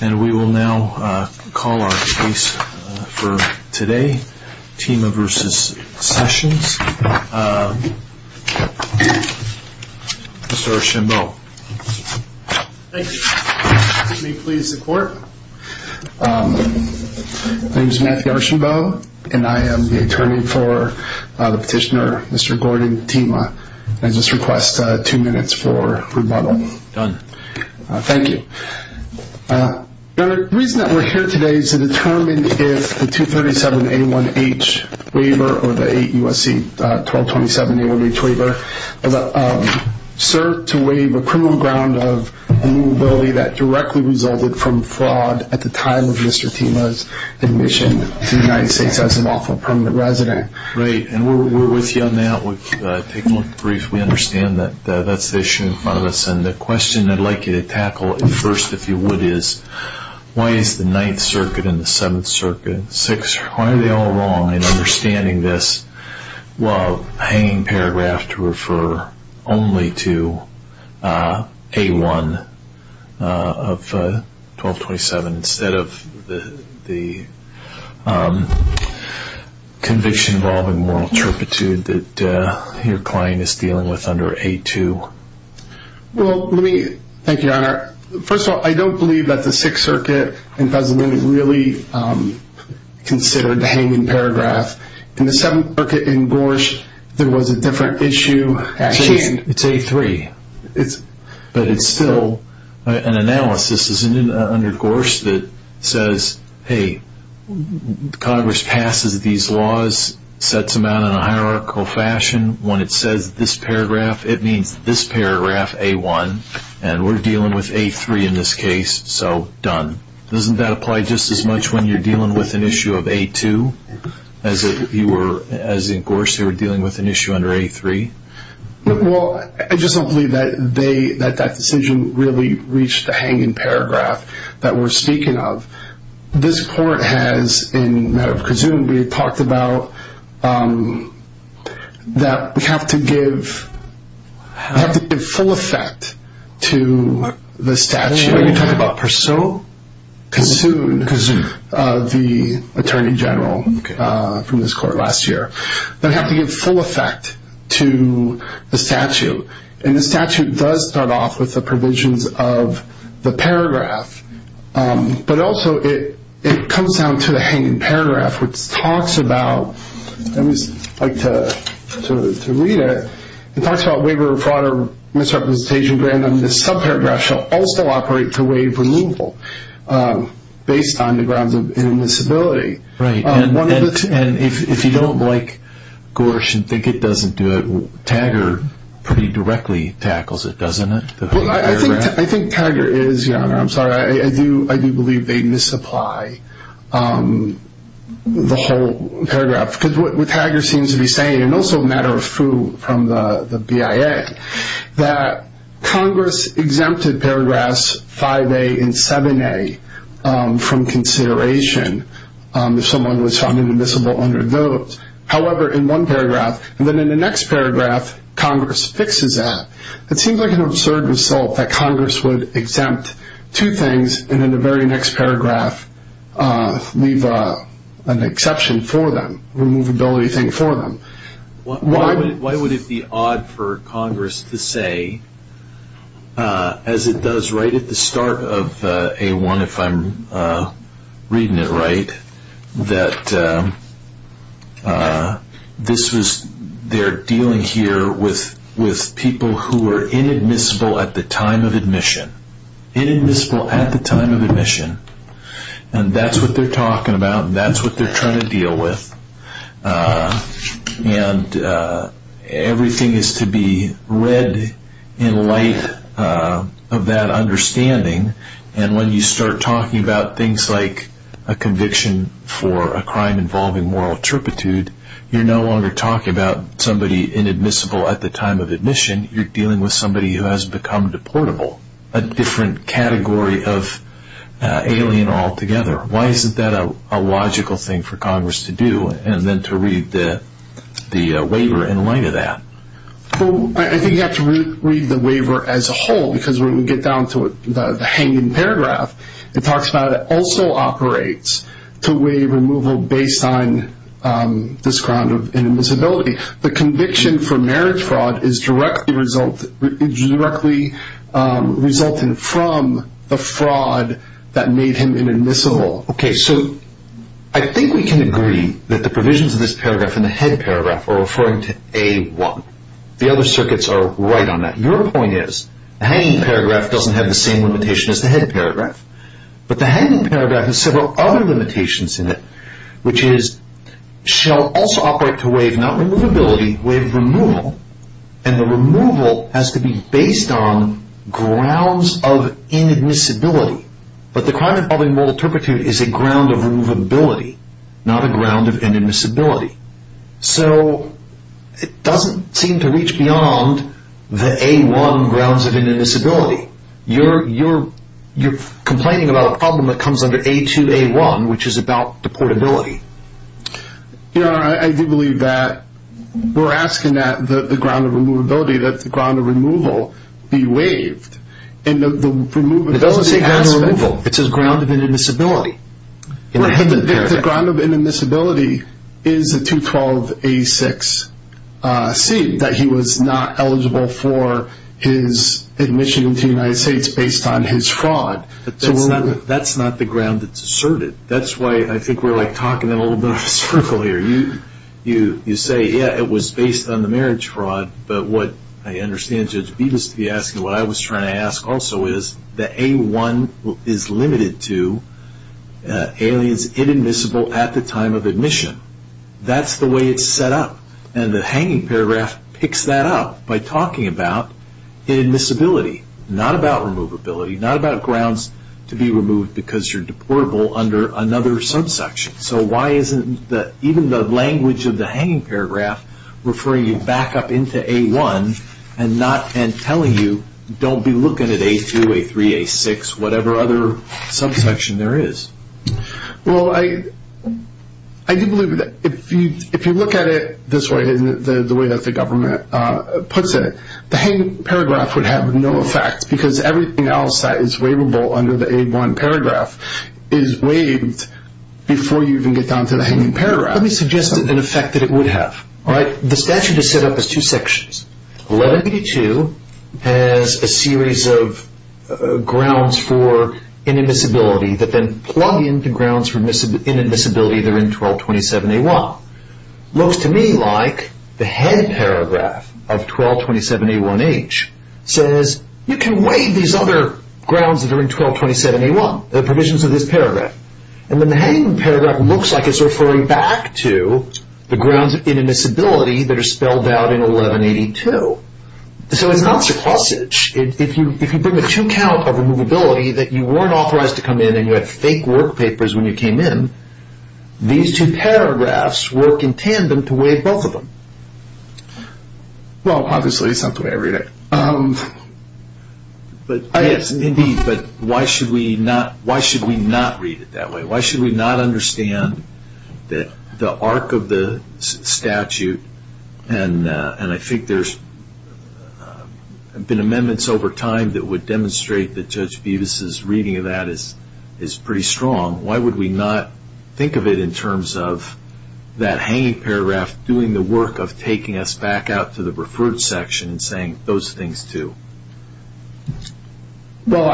And we will now call our case for today, Tima v. Sessions. Mr. Archambeau. Thank you. May it please the court. My name is Matthew Archambeau, and I am the attorney for the petitioner, Mr. Gordon Tima. I just request two minutes for rebuttal. Done. Thank you. The reason that we are here today is to determine if the 237A1H waiver or the 8 U.S.C. 1227A1H waiver served to waive a criminal ground of immovability that directly resulted from fraud at the time of Mr. Tima's admission to the United States as an awful permanent resident. Right. And we are with you on that. We have taken a look briefly. We understand that that is the issue in front of us. And the question I would like you to tackle first, if you would, is why is the 9th Circuit and the 7th Circuit, 6th, why are they all wrong in understanding this? I would love a hanging paragraph to refer only to A1 of 1227 instead of the conviction involving moral turpitude that your client is dealing with under A2. Thank you, Your Honor. First of all, I don't believe that the 6th Circuit really considered the hanging paragraph. In the 7th Circuit in Gorsh, there was a different issue. It's A3. But it's still an analysis under Gorsh that says, hey, Congress passes these laws, sets them out in a hierarchical fashion. When it says this paragraph, it means this paragraph, A1. And we're dealing with A3 in this case, so done. Doesn't that apply just as much when you're dealing with an issue of A2 as if you were, as in Gorsh, you were dealing with an issue under A3? Well, I just don't believe that they, that that decision really reached the hanging paragraph that we're speaking of. This Court has, in the matter of Kazun, we talked about that we have to give full effect to the statute. When you talk about Kazun, the Attorney General from this Court last year, they have to give full effect to the statute. And the statute does start off with the provisions of the paragraph. But also, it comes down to the hanging paragraph, which talks about, and I'd like to read it, it talks about waiver of fraud or misrepresentation. Granted, this subparagraph shall also operate to waive removal based on the grounds of inadmissibility. Right. And if you don't like Gorsh and think it doesn't do it, Taggart pretty directly tackles it, doesn't it? Well, I think Taggart is, Your Honor. I'm sorry. I do believe they misapply the whole paragraph. Because what Taggart seems to be saying, and also a matter of foo from the BIA, that Congress exempted paragraphs 5A and 7A from consideration if someone was found inadmissible under those. However, in one paragraph, and then in the next paragraph, Congress fixes that. It seems like an absurd result that Congress would exempt two things, and in the very next paragraph, leave an exception for them, a removability thing for them. Why would it be odd for Congress to say, as it does right at the start of A1, if I'm reading it right, that this was, they're dealing here with people who were inadmissible at the time of admission. And that's what they're talking about, and that's what they're trying to deal with. And everything is to be read in light of that understanding. And when you start talking about things like a conviction for a crime involving moral turpitude, you're no longer talking about somebody inadmissible at the time of admission. You're dealing with somebody who has become deportable, a different category of alien altogether. Why isn't that a logical thing for Congress to do, and then to read the waiver in light of that? Well, I think you have to read the waiver as a whole, because when we get down to the hanging paragraph, it talks about it also operates to waive removal based on this ground of inadmissibility. The conviction for marriage fraud is directly resulting from the fraud that made him inadmissible. Okay, so I think we can agree that the provisions of this paragraph and the head paragraph are referring to A1. The other circuits are right on that. Your point is, the hanging paragraph doesn't have the same limitation as the head paragraph. But the hanging paragraph has several other limitations in it, which is, shall also operate to waive not removability, waive removal. And the removal has to be based on grounds of inadmissibility. But the crime involving moral turpitude is a ground of removability, not a ground of inadmissibility. So it doesn't seem to reach beyond the A1 grounds of inadmissibility. You're complaining about a problem that comes under A2, A1, which is about deportability. I do believe that we're asking that the ground of removability, that the ground of removal, be waived. It doesn't say ground of removal, it says ground of inadmissibility. The ground of inadmissibility is a 212A6C, that he was not eligible for his admission into the United States based on his fraud. That's not the ground that's asserted. That's why I think we're talking in a little bit of a circle here. You say, yeah, it was based on the marriage fraud. But what I understand Judge Bevis to be asking, what I was trying to ask also, is that A1 is limited to aliens inadmissible at the time of admission. That's the way it's set up. And the hanging paragraph picks that up by talking about inadmissibility, not about removability, not about grounds to be removed because you're deportable under another subsection. So why isn't even the language of the hanging paragraph referring you back up into A1 and telling you don't be looking at A2, A3, A6, whatever other subsection there is? Well, I do believe that if you look at it this way, the way that the government puts it, the hanging paragraph would have no effect because everything else that is waivable under the A1 paragraph is waived before you even get down to the hanging paragraph. Let me suggest an effect that it would have. The statute is set up as two sections. 1182 has a series of grounds for inadmissibility that then plug into grounds for inadmissibility that are in 1227A1. Looks to me like the head paragraph of 1227A1H says you can waive these other grounds that are in 1227A1. The provisions of this paragraph. And then the hanging paragraph looks like it's referring back to the grounds of inadmissibility that are spelled out in 1182. So it's not surplusage. If you bring a two-count of removability that you weren't authorized to come in and you had fake work papers when you came in, these two paragraphs work in tandem to waive both of them. Well, obviously it's not the way I read it. Yes, indeed. But why should we not read it that way? Why should we not understand that the arc of the statute, and I think there's been amendments over time that would demonstrate that Judge Bevis' reading of that is pretty strong. Why would we not think of it in terms of that hanging paragraph doing the work of taking us back out to the referred section and saying those things too? Well,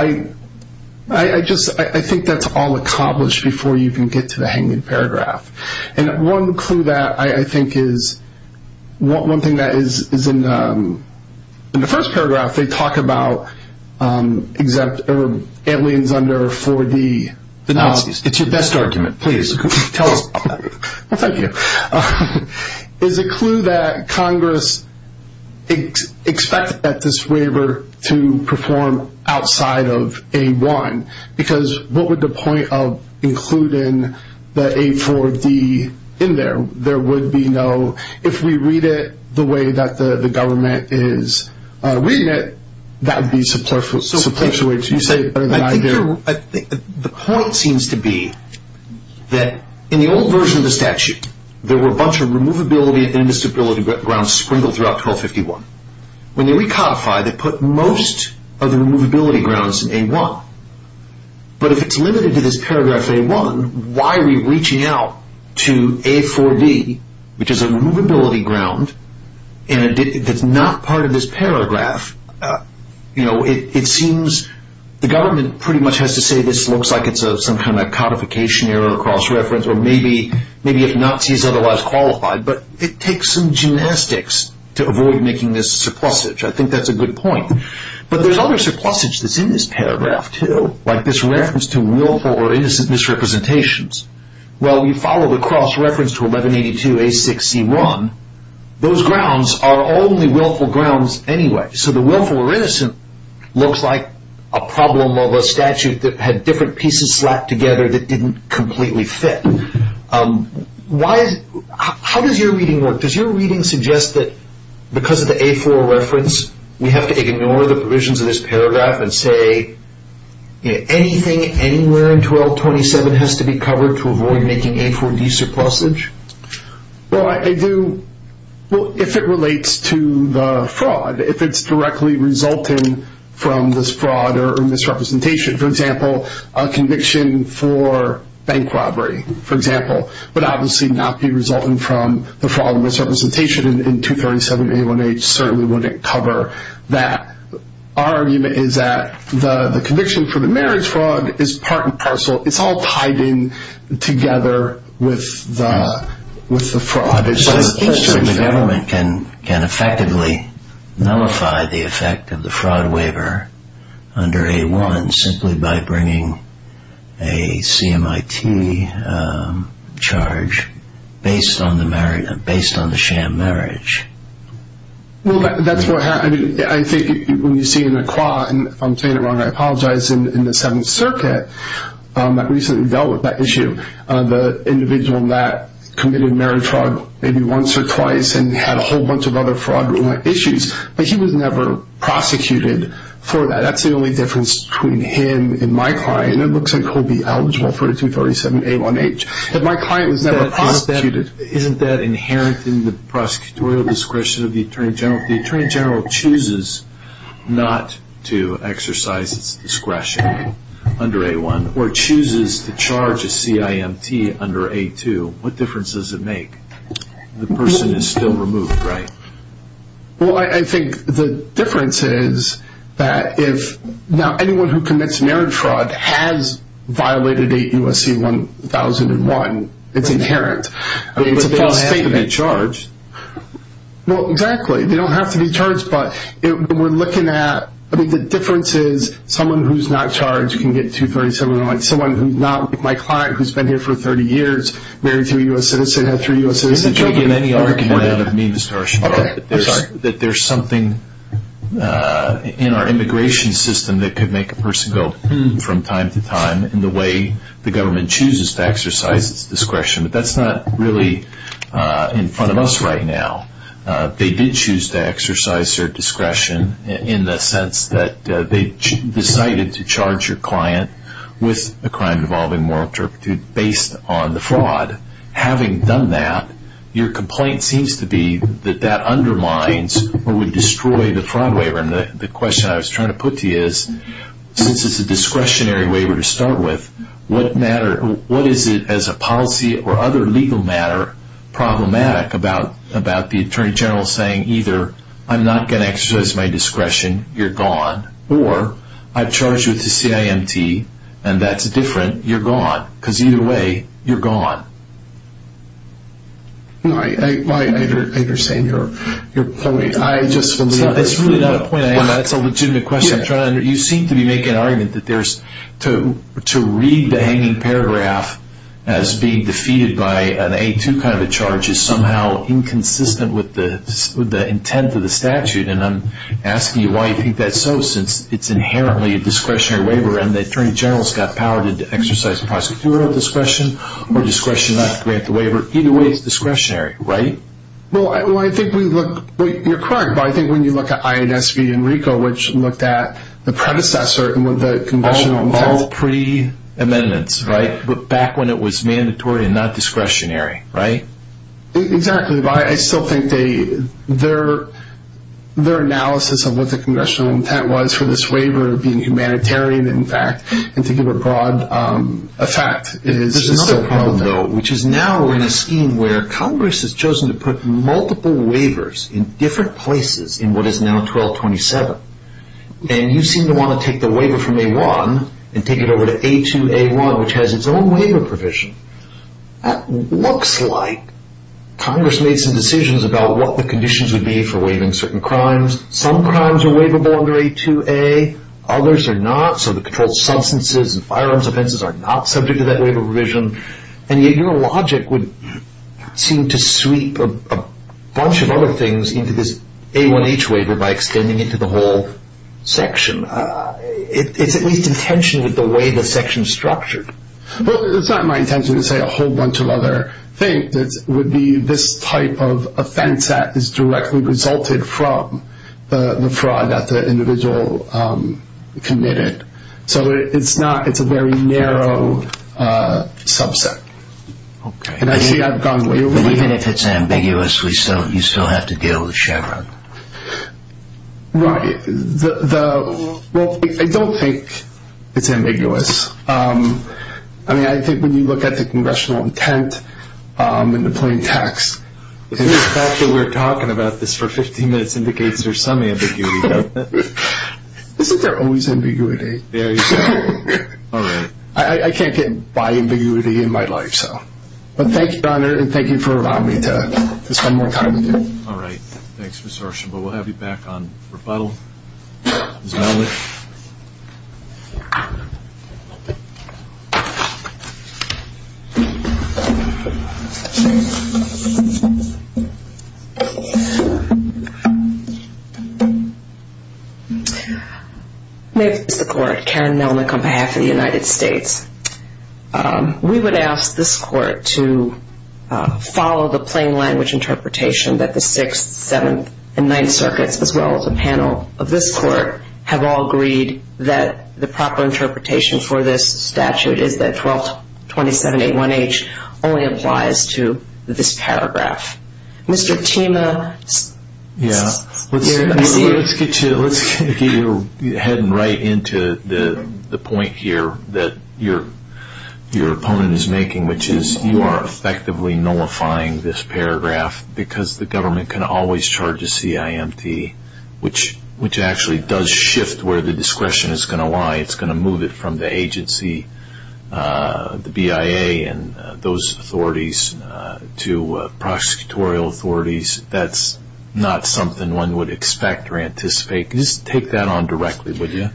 I just think that's all accomplished before you can get to the hanging paragraph. And one clue that I think is one thing that is in the first paragraph they talk about aliens under 4D. It's your best argument. Please, tell us. Thank you. It's a clue that Congress expects that this waiver to perform outside of A1 because what would the point of including the A4D in there? There would be no – if we read it the way that the government is reading it, that would be subterfuge. I think the point seems to be that in the old version of the statute, there were a bunch of removability and instability grounds sprinkled throughout 1251. When they recodified, they put most of the removability grounds in A1. But if it's limited to this paragraph A1, why are we reaching out to A4D, which is a removability ground that's not part of this paragraph? It seems the government pretty much has to say this looks like it's some kind of codification error, cross-reference, or maybe if Nazi is otherwise qualified. But it takes some gymnastics to avoid making this surplusage. I think that's a good point. But there's other surplusage that's in this paragraph, too, like this reference to willful or innocent misrepresentations. Well, you follow the cross-reference to 1182A6C1, those grounds are only willful grounds anyway. So the willful or innocent looks like a problem of a statute that had different pieces slapped together that didn't completely fit. How does your reading work? Does your reading suggest that because of the A4 reference, we have to ignore the provisions of this paragraph and say anything anywhere in 1227 has to be covered to avoid making A4D surplusage? Well, I do. Well, if it relates to the fraud, if it's directly resulting from this fraud or misrepresentation. For example, a conviction for bank robbery, for example, would obviously not be resulting from the fraud and misrepresentation, and 237A1H certainly wouldn't cover that. Our argument is that the conviction for the marriage fraud is part and parcel. It's all tied in together with the fraud. So it seems to me the government can effectively nullify the effect of the fraud waiver under A1 simply by bringing a CMIT charge based on the sham marriage. Well, that's what happened. I think when you see an acqua, and if I'm saying it wrong, I apologize, in the Seventh Circuit that recently dealt with that issue, the individual that committed marriage fraud maybe once or twice and had a whole bunch of other fraudulent issues, but he was never prosecuted for that. That's the only difference between him and my client. It looks like he'll be eligible for 237A1H. My client was never prosecuted. Isn't that inherent in the prosecutorial discretion of the Attorney General? If the Attorney General chooses not to exercise his discretion under A1 or chooses to charge a CIMT under A2, what difference does it make? The person is still removed, right? Well, I think the difference is that if anyone who commits marriage fraud has violated 8 U.S.C. 1001, it's inherent. But they don't have to be charged. Well, exactly. They don't have to be charged, but we're looking at – I mean, the difference is someone who's not charged can get 237A1H. Someone who's not, like my client who's been here for 30 years, married to a U.S. citizen, had 3 U.S. citizens. You're taking any argument out of me, Mr. Archibald, that there's something in our immigration system that could make a person go from time to time in the way the government chooses to exercise its discretion. But that's not really in front of us right now. They did choose to exercise their discretion in the sense that they decided to charge your client with a crime involving moral turpitude based on the fraud. Having done that, your complaint seems to be that that undermines or would destroy the fraud waiver. And the question I was trying to put to you is, since it's a discretionary waiver to start with, what is it as a policy or other legal matter that's problematic about the attorney general saying either, I'm not going to exercise my discretion, you're gone, or I've charged you with a CIMT and that's different, you're gone. Because either way, you're gone. I understand your point. It's really not a point. That's a legitimate question. You seem to be making an argument that to read the hanging paragraph as being defeated by an A2 kind of a charge is somehow inconsistent with the intent of the statute. And I'm asking you why you think that's so, since it's inherently a discretionary waiver and the attorney general's got power to exercise prosecutorial discretion or discretion not to grant the waiver. Either way, it's discretionary, right? You're correct, but I think when you look at IADS v. Enrico, which looked at the predecessor with the conventional intent. All pre-amendments, right? It was put back when it was mandatory and not discretionary, right? Exactly. But I still think their analysis of what the congressional intent was for this waiver being humanitarian, in fact, and to give a broad effect. There's another problem, though, which is now we're in a scheme where Congress has chosen to put multiple waivers in different places in what is now 1227. And you seem to want to take the waiver from A1 and take it over to A2A1, which has its own waiver provision. It looks like Congress made some decisions about what the conditions would be for waiving certain crimes. Some crimes are waivable under A2A. Others are not, so the controlled substances and firearms offenses are not subject to that waiver provision. And yet your logic would seem to sweep a bunch of other things into this A1H waiver by extending it to the whole section. It's at least intentionally the way the section is structured. Well, it's not my intention to say a whole bunch of other things. It would be this type of offense that is directly resulted from the fraud that the individual committed. So it's a very narrow subset. Okay. And I see I've gone way over time. But even if it's ambiguous, you still have to deal with Chevron. Right. Well, I don't think it's ambiguous. I mean, I think when you look at the congressional intent and the plain text. The fact that we're talking about this for 15 minutes indicates there's some ambiguity. Isn't there always ambiguity? There is. All right. I can't get by ambiguity in my life. But thank you, Donner, and thank you for allowing me to spend more time with you. All right. Thanks, Ms. Horsham. But we'll have you back on rebuttal. Ms. Melnick. May it please the Court. Karen Melnick on behalf of the United States. We would ask this Court to follow the plain language interpretation that the Sixth, Seventh, and Ninth Circuits, as well as a panel of this Court, have all agreed that the proper interpretation for this statute is that 122781H only applies to this paragraph. Mr. Tima. Yeah. Let's get your head right into the point here that your opponent is making, which is you are effectively nullifying this paragraph because the government can always charge a CIMT, which actually does shift where the discretion is going to lie. It's going to move it from the agency, the BIA and those authorities, to prosecutorial authorities. That's not something one would expect or anticipate. Could you just take that on directly, would you?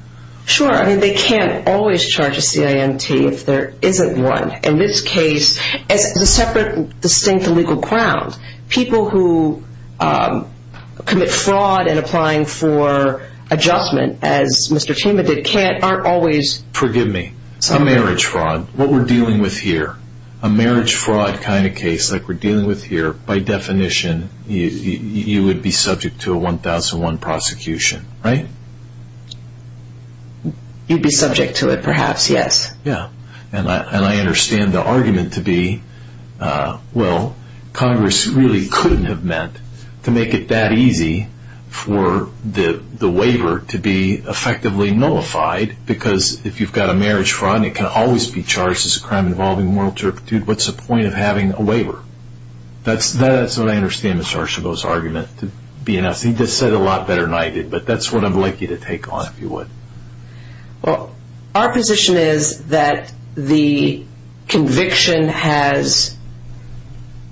Sure. I mean, they can't always charge a CIMT if there isn't one. In this case, as a separate, distinct and legal ground, people who commit fraud in applying for adjustment, as Mr. Tima did, can't, aren't always. Forgive me. A marriage fraud. What we're dealing with here, a marriage fraud kind of case, like we're dealing with here, by definition, you would be subject to a 1001 prosecution, right? You'd be subject to it, perhaps, yes. Yeah. And I understand the argument to be, well, Congress really couldn't have meant to make it that easy for the waiver to be effectively nullified because if you've got a marriage fraud and it can always be charged as a crime involving moral turpitude, what's the point of having a waiver? That's what I understand Mr. Archibald's argument to be. He just said it a lot better than I did, but that's what I'd like you to take on, if you would. Well, our position is that the conviction has,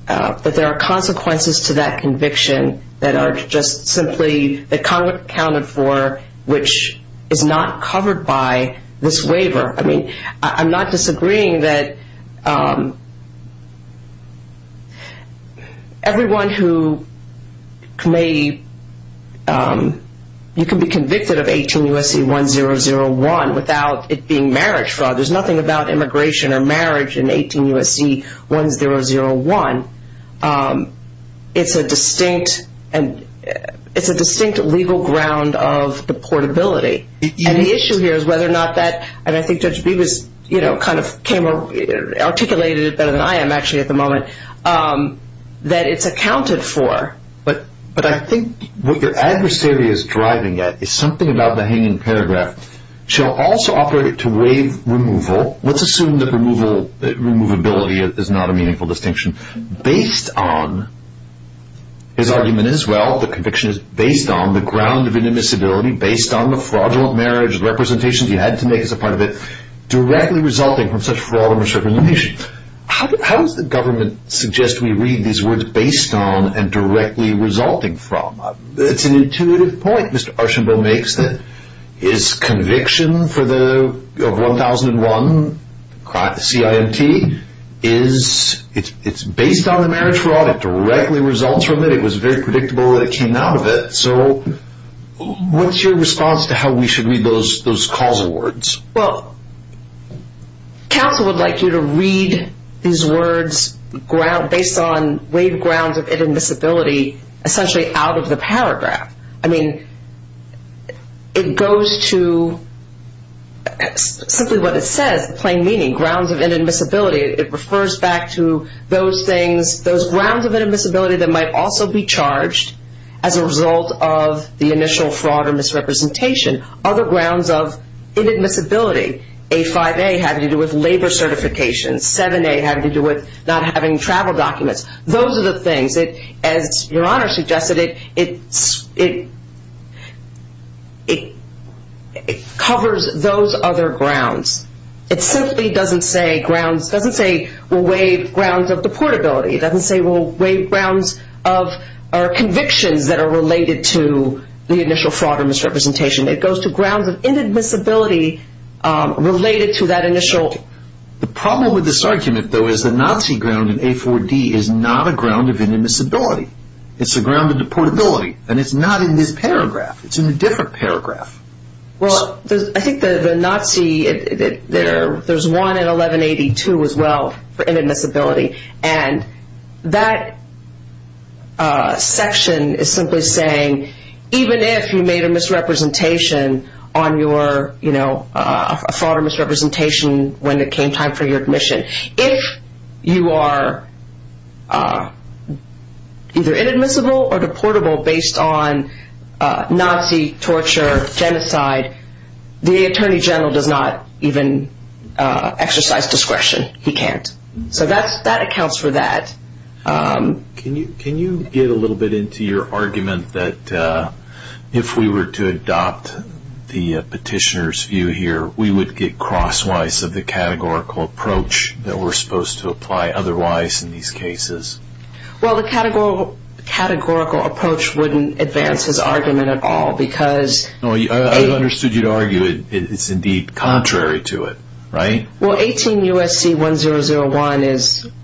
that there are consequences to that conviction that are just simply, that Congress accounted for, which is not covered by this waiver. I mean, I'm not disagreeing that everyone who may, you can be convicted of 18 U.S.C. 1001 without it being marriage fraud. There's nothing about immigration or marriage in 18 U.S.C. 1001. It's a distinct legal ground of deportability. And the issue here is whether or not that, and I think Judge Bevis kind of articulated it better than I am actually at the moment, that it's accounted for. But I think what your adversary is driving at is something about the hanging paragraph. She'll also operate it to waive removal. Let's assume that removability is not a meaningful distinction. Based on, his argument is, well, the conviction is based on the ground of indemisability, based on the fraudulent marriage representations he had to make as a part of it, directly resulting from such fraud and misrepresentation. How does the government suggest we read these words based on and directly resulting from? It's an intuitive point Mr. Archambault makes that his conviction for the 1001 CIMT is, it's based on the marriage fraud. It directly results from it. It was very predictable that it came out of it. So what's your response to how we should read those causal words? Well, counsel would like you to read these words based on waived grounds of indemisability, essentially out of the paragraph. I mean, it goes to simply what it says, plain meaning, grounds of indemisability. It refers back to those things, those grounds of indemisability that might also be charged as a result of the initial fraud or misrepresentation, other grounds of indemisability. A5A had to do with labor certifications. 7A had to do with not having travel documents. Those are the things. As Your Honor suggested, it covers those other grounds. It simply doesn't say grounds. It doesn't say waived grounds of deportability. It doesn't say waived grounds of convictions that are related to the initial fraud or misrepresentation. It goes to grounds of indemisability related to that initial. The problem with this argument, though, is the Nazi ground in A4D is not a ground of indemisability. It's a ground of deportability, and it's not in this paragraph. It's in a different paragraph. Well, I think the Nazi, there's one in 1182 as well for indemisability, and that section is simply saying even if you made a misrepresentation on your, you know, a fraud or misrepresentation when it came time for your admission, if you are either inadmissible or deportable based on Nazi torture, genocide, the Attorney General does not even exercise discretion. He can't. So that accounts for that. Can you get a little bit into your argument that if we were to adopt the petitioner's view here, we would get crosswise of the categorical approach that we're supposed to apply otherwise in these cases? Well, the categorical approach wouldn't advance his argument at all because... I understood you'd argue it's indeed contrary to it, right? Well, 18 U.S.C. 1001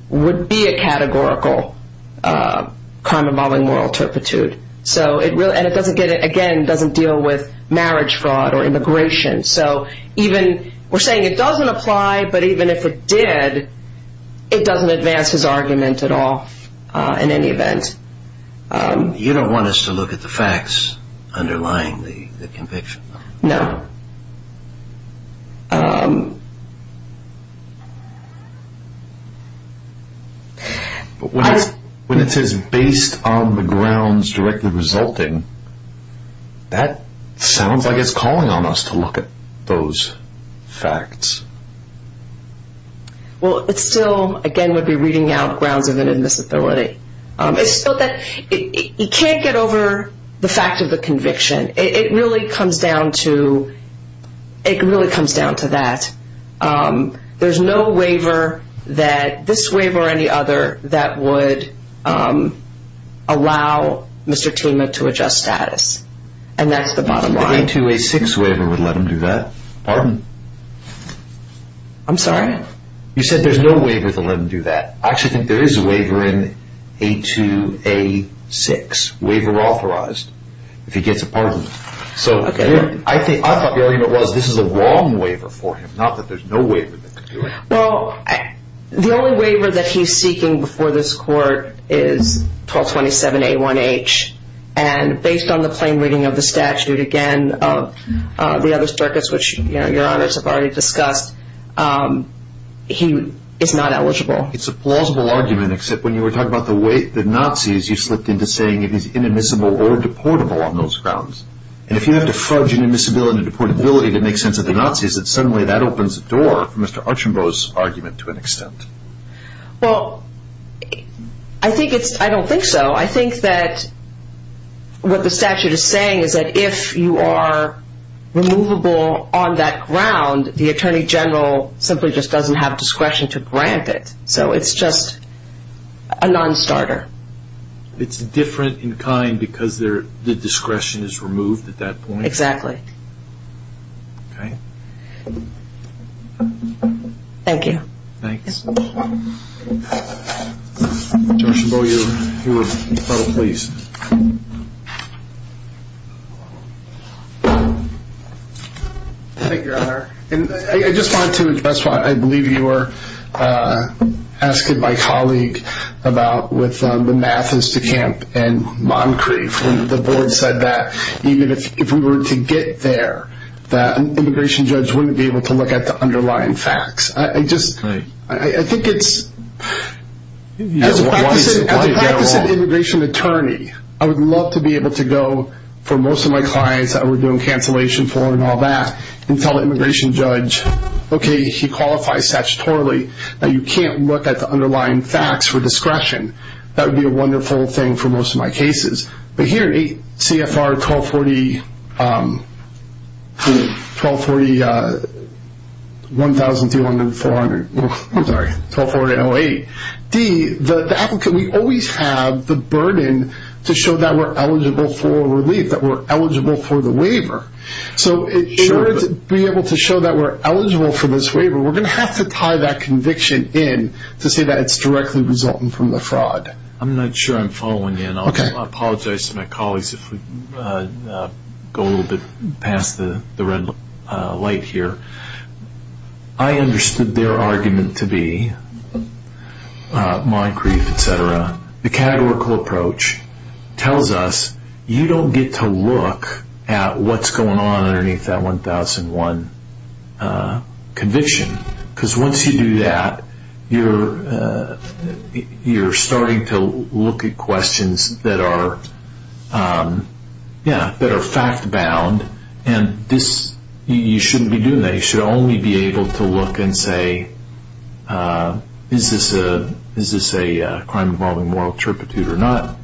would be a categorical crime involving moral turpitude, and it doesn't, again, deal with marriage fraud or immigration. So even we're saying it doesn't apply, but even if it did, it doesn't advance his argument at all in any event. You don't want us to look at the facts underlying the conviction? No. When it says based on the grounds directly resulting, that sounds like it's calling on us to look at those facts. Well, it still, again, would be reading out grounds of inadmissibility. It's still that you can't get over the fact of the conviction. It really comes down to that. There's no waiver that, this waiver or any other, that would allow Mr. Tima to adjust status. And that's the bottom line. The A2-A6 waiver would let him do that. Pardon? I'm sorry? You said there's no waiver to let him do that. I actually think there is a waiver in A2-A6, waiver authorized, if he gets a pardon. So I thought the argument was this is a wrong waiver for him, not that there's no waiver that could do it. Well, the only waiver that he's seeking before this court is 1227-A1-H. And based on the plain reading of the statute, again, of the other circuits, which your honors have already discussed, he is not eligible. It's a plausible argument, except when you were talking about the Nazis, you slipped into saying it is inadmissible or deportable on those grounds. And if you have to fudge inadmissibility and deportability to make sense of the Nazis, then suddenly that opens the door for Mr. Archambault's argument to an extent. Well, I don't think so. I think that what the statute is saying is that if you are removable on that ground, the attorney general simply just doesn't have discretion to grant it. So it's just a non-starter. It's different in kind because the discretion is removed at that point? Okay. Thank you. Thanks. Judge Archambault, you're final please. Thank you, your honor. And I just wanted to address what I believe you were asking my colleague about with the math is to camp and Moncrief and the board said that even if we were to get there, that an immigration judge wouldn't be able to look at the underlying facts. I think it's... As a practicing immigration attorney, I would love to be able to go for most of my clients that we're doing cancellation for and all that and tell the immigration judge, okay, he qualifies statutorily, that you can't look at the underlying facts for discretion. That would be a wonderful thing for most of my cases. But here, CFR 1240-1004, I'm sorry, 1240-08, D, the applicant, we always have the burden to show that we're eligible for relief, that we're eligible for the waiver. So in order to be able to show that we're eligible for this waiver, we're going to have to tie that conviction in to say that it's directly resulting from the fraud. I'm not sure I'm following you. I apologize to my colleagues if we go a little bit past the red light here. I understood their argument to be, Moncrief, et cetera, the categorical approach tells us you don't get to look at what's going on underneath that 1001 conviction because once you do that, you're starting to look at questions that are fact-bound, and you shouldn't be doing that. You should only be able to look and say, is this a crime involving moral turpitude or not?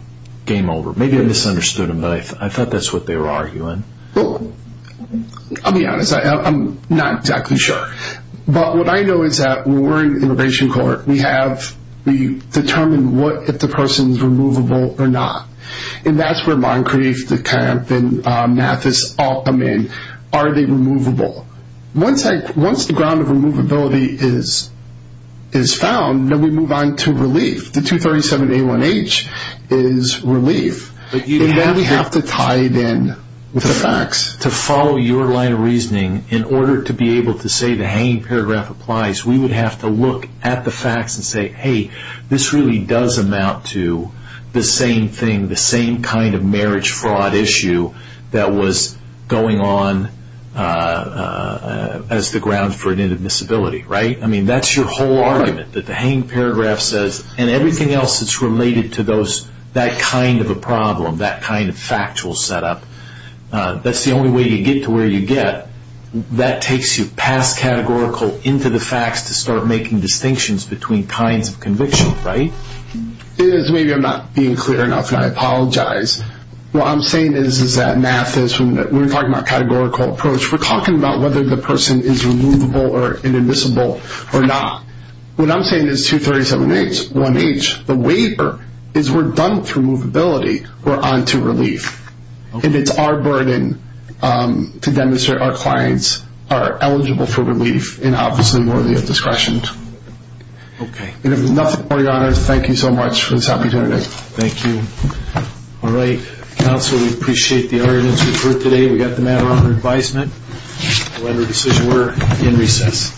Game over. Maybe I misunderstood them, but I thought that's what they were arguing. I'll be honest. I'm not exactly sure. But what I know is that when we're in immigration court, we determine if the person is removable or not. And that's where Moncrief, the camp, and Mathis all come in. Are they removable? Once the ground of removability is found, then we move on to relief. The 237A1H is relief. Then we have to tie it in with the facts. To follow your line of reasoning, in order to be able to say the hanging paragraph applies, we would have to look at the facts and say, hey, this really does amount to the same thing, the same kind of marriage fraud issue that was going on as the ground for inadmissibility, right? I mean, that's your whole argument, that the hanging paragraph says, and everything else that's related to that kind of a problem, that kind of factual setup. That's the only way you get to where you get. That takes you past categorical into the facts to start making distinctions between kinds of conviction, right? It is. Maybe I'm not being clear enough, and I apologize. What I'm saying is that Mathis, when we're talking about categorical approach, we're talking about whether the person is removable or inadmissible or not. What I'm saying is 237A1H, the waiver, is we're done with removability, we're on to relief. And it's our burden to demonstrate our clients are eligible for relief and obviously worthy of discretion. Okay. And if there's nothing more, Your Honor, thank you so much for this opportunity. Thank you. All right. Counsel, we appreciate the arguments we've heard today. We got the matter under advisement. We'll end our decision. We're in recess.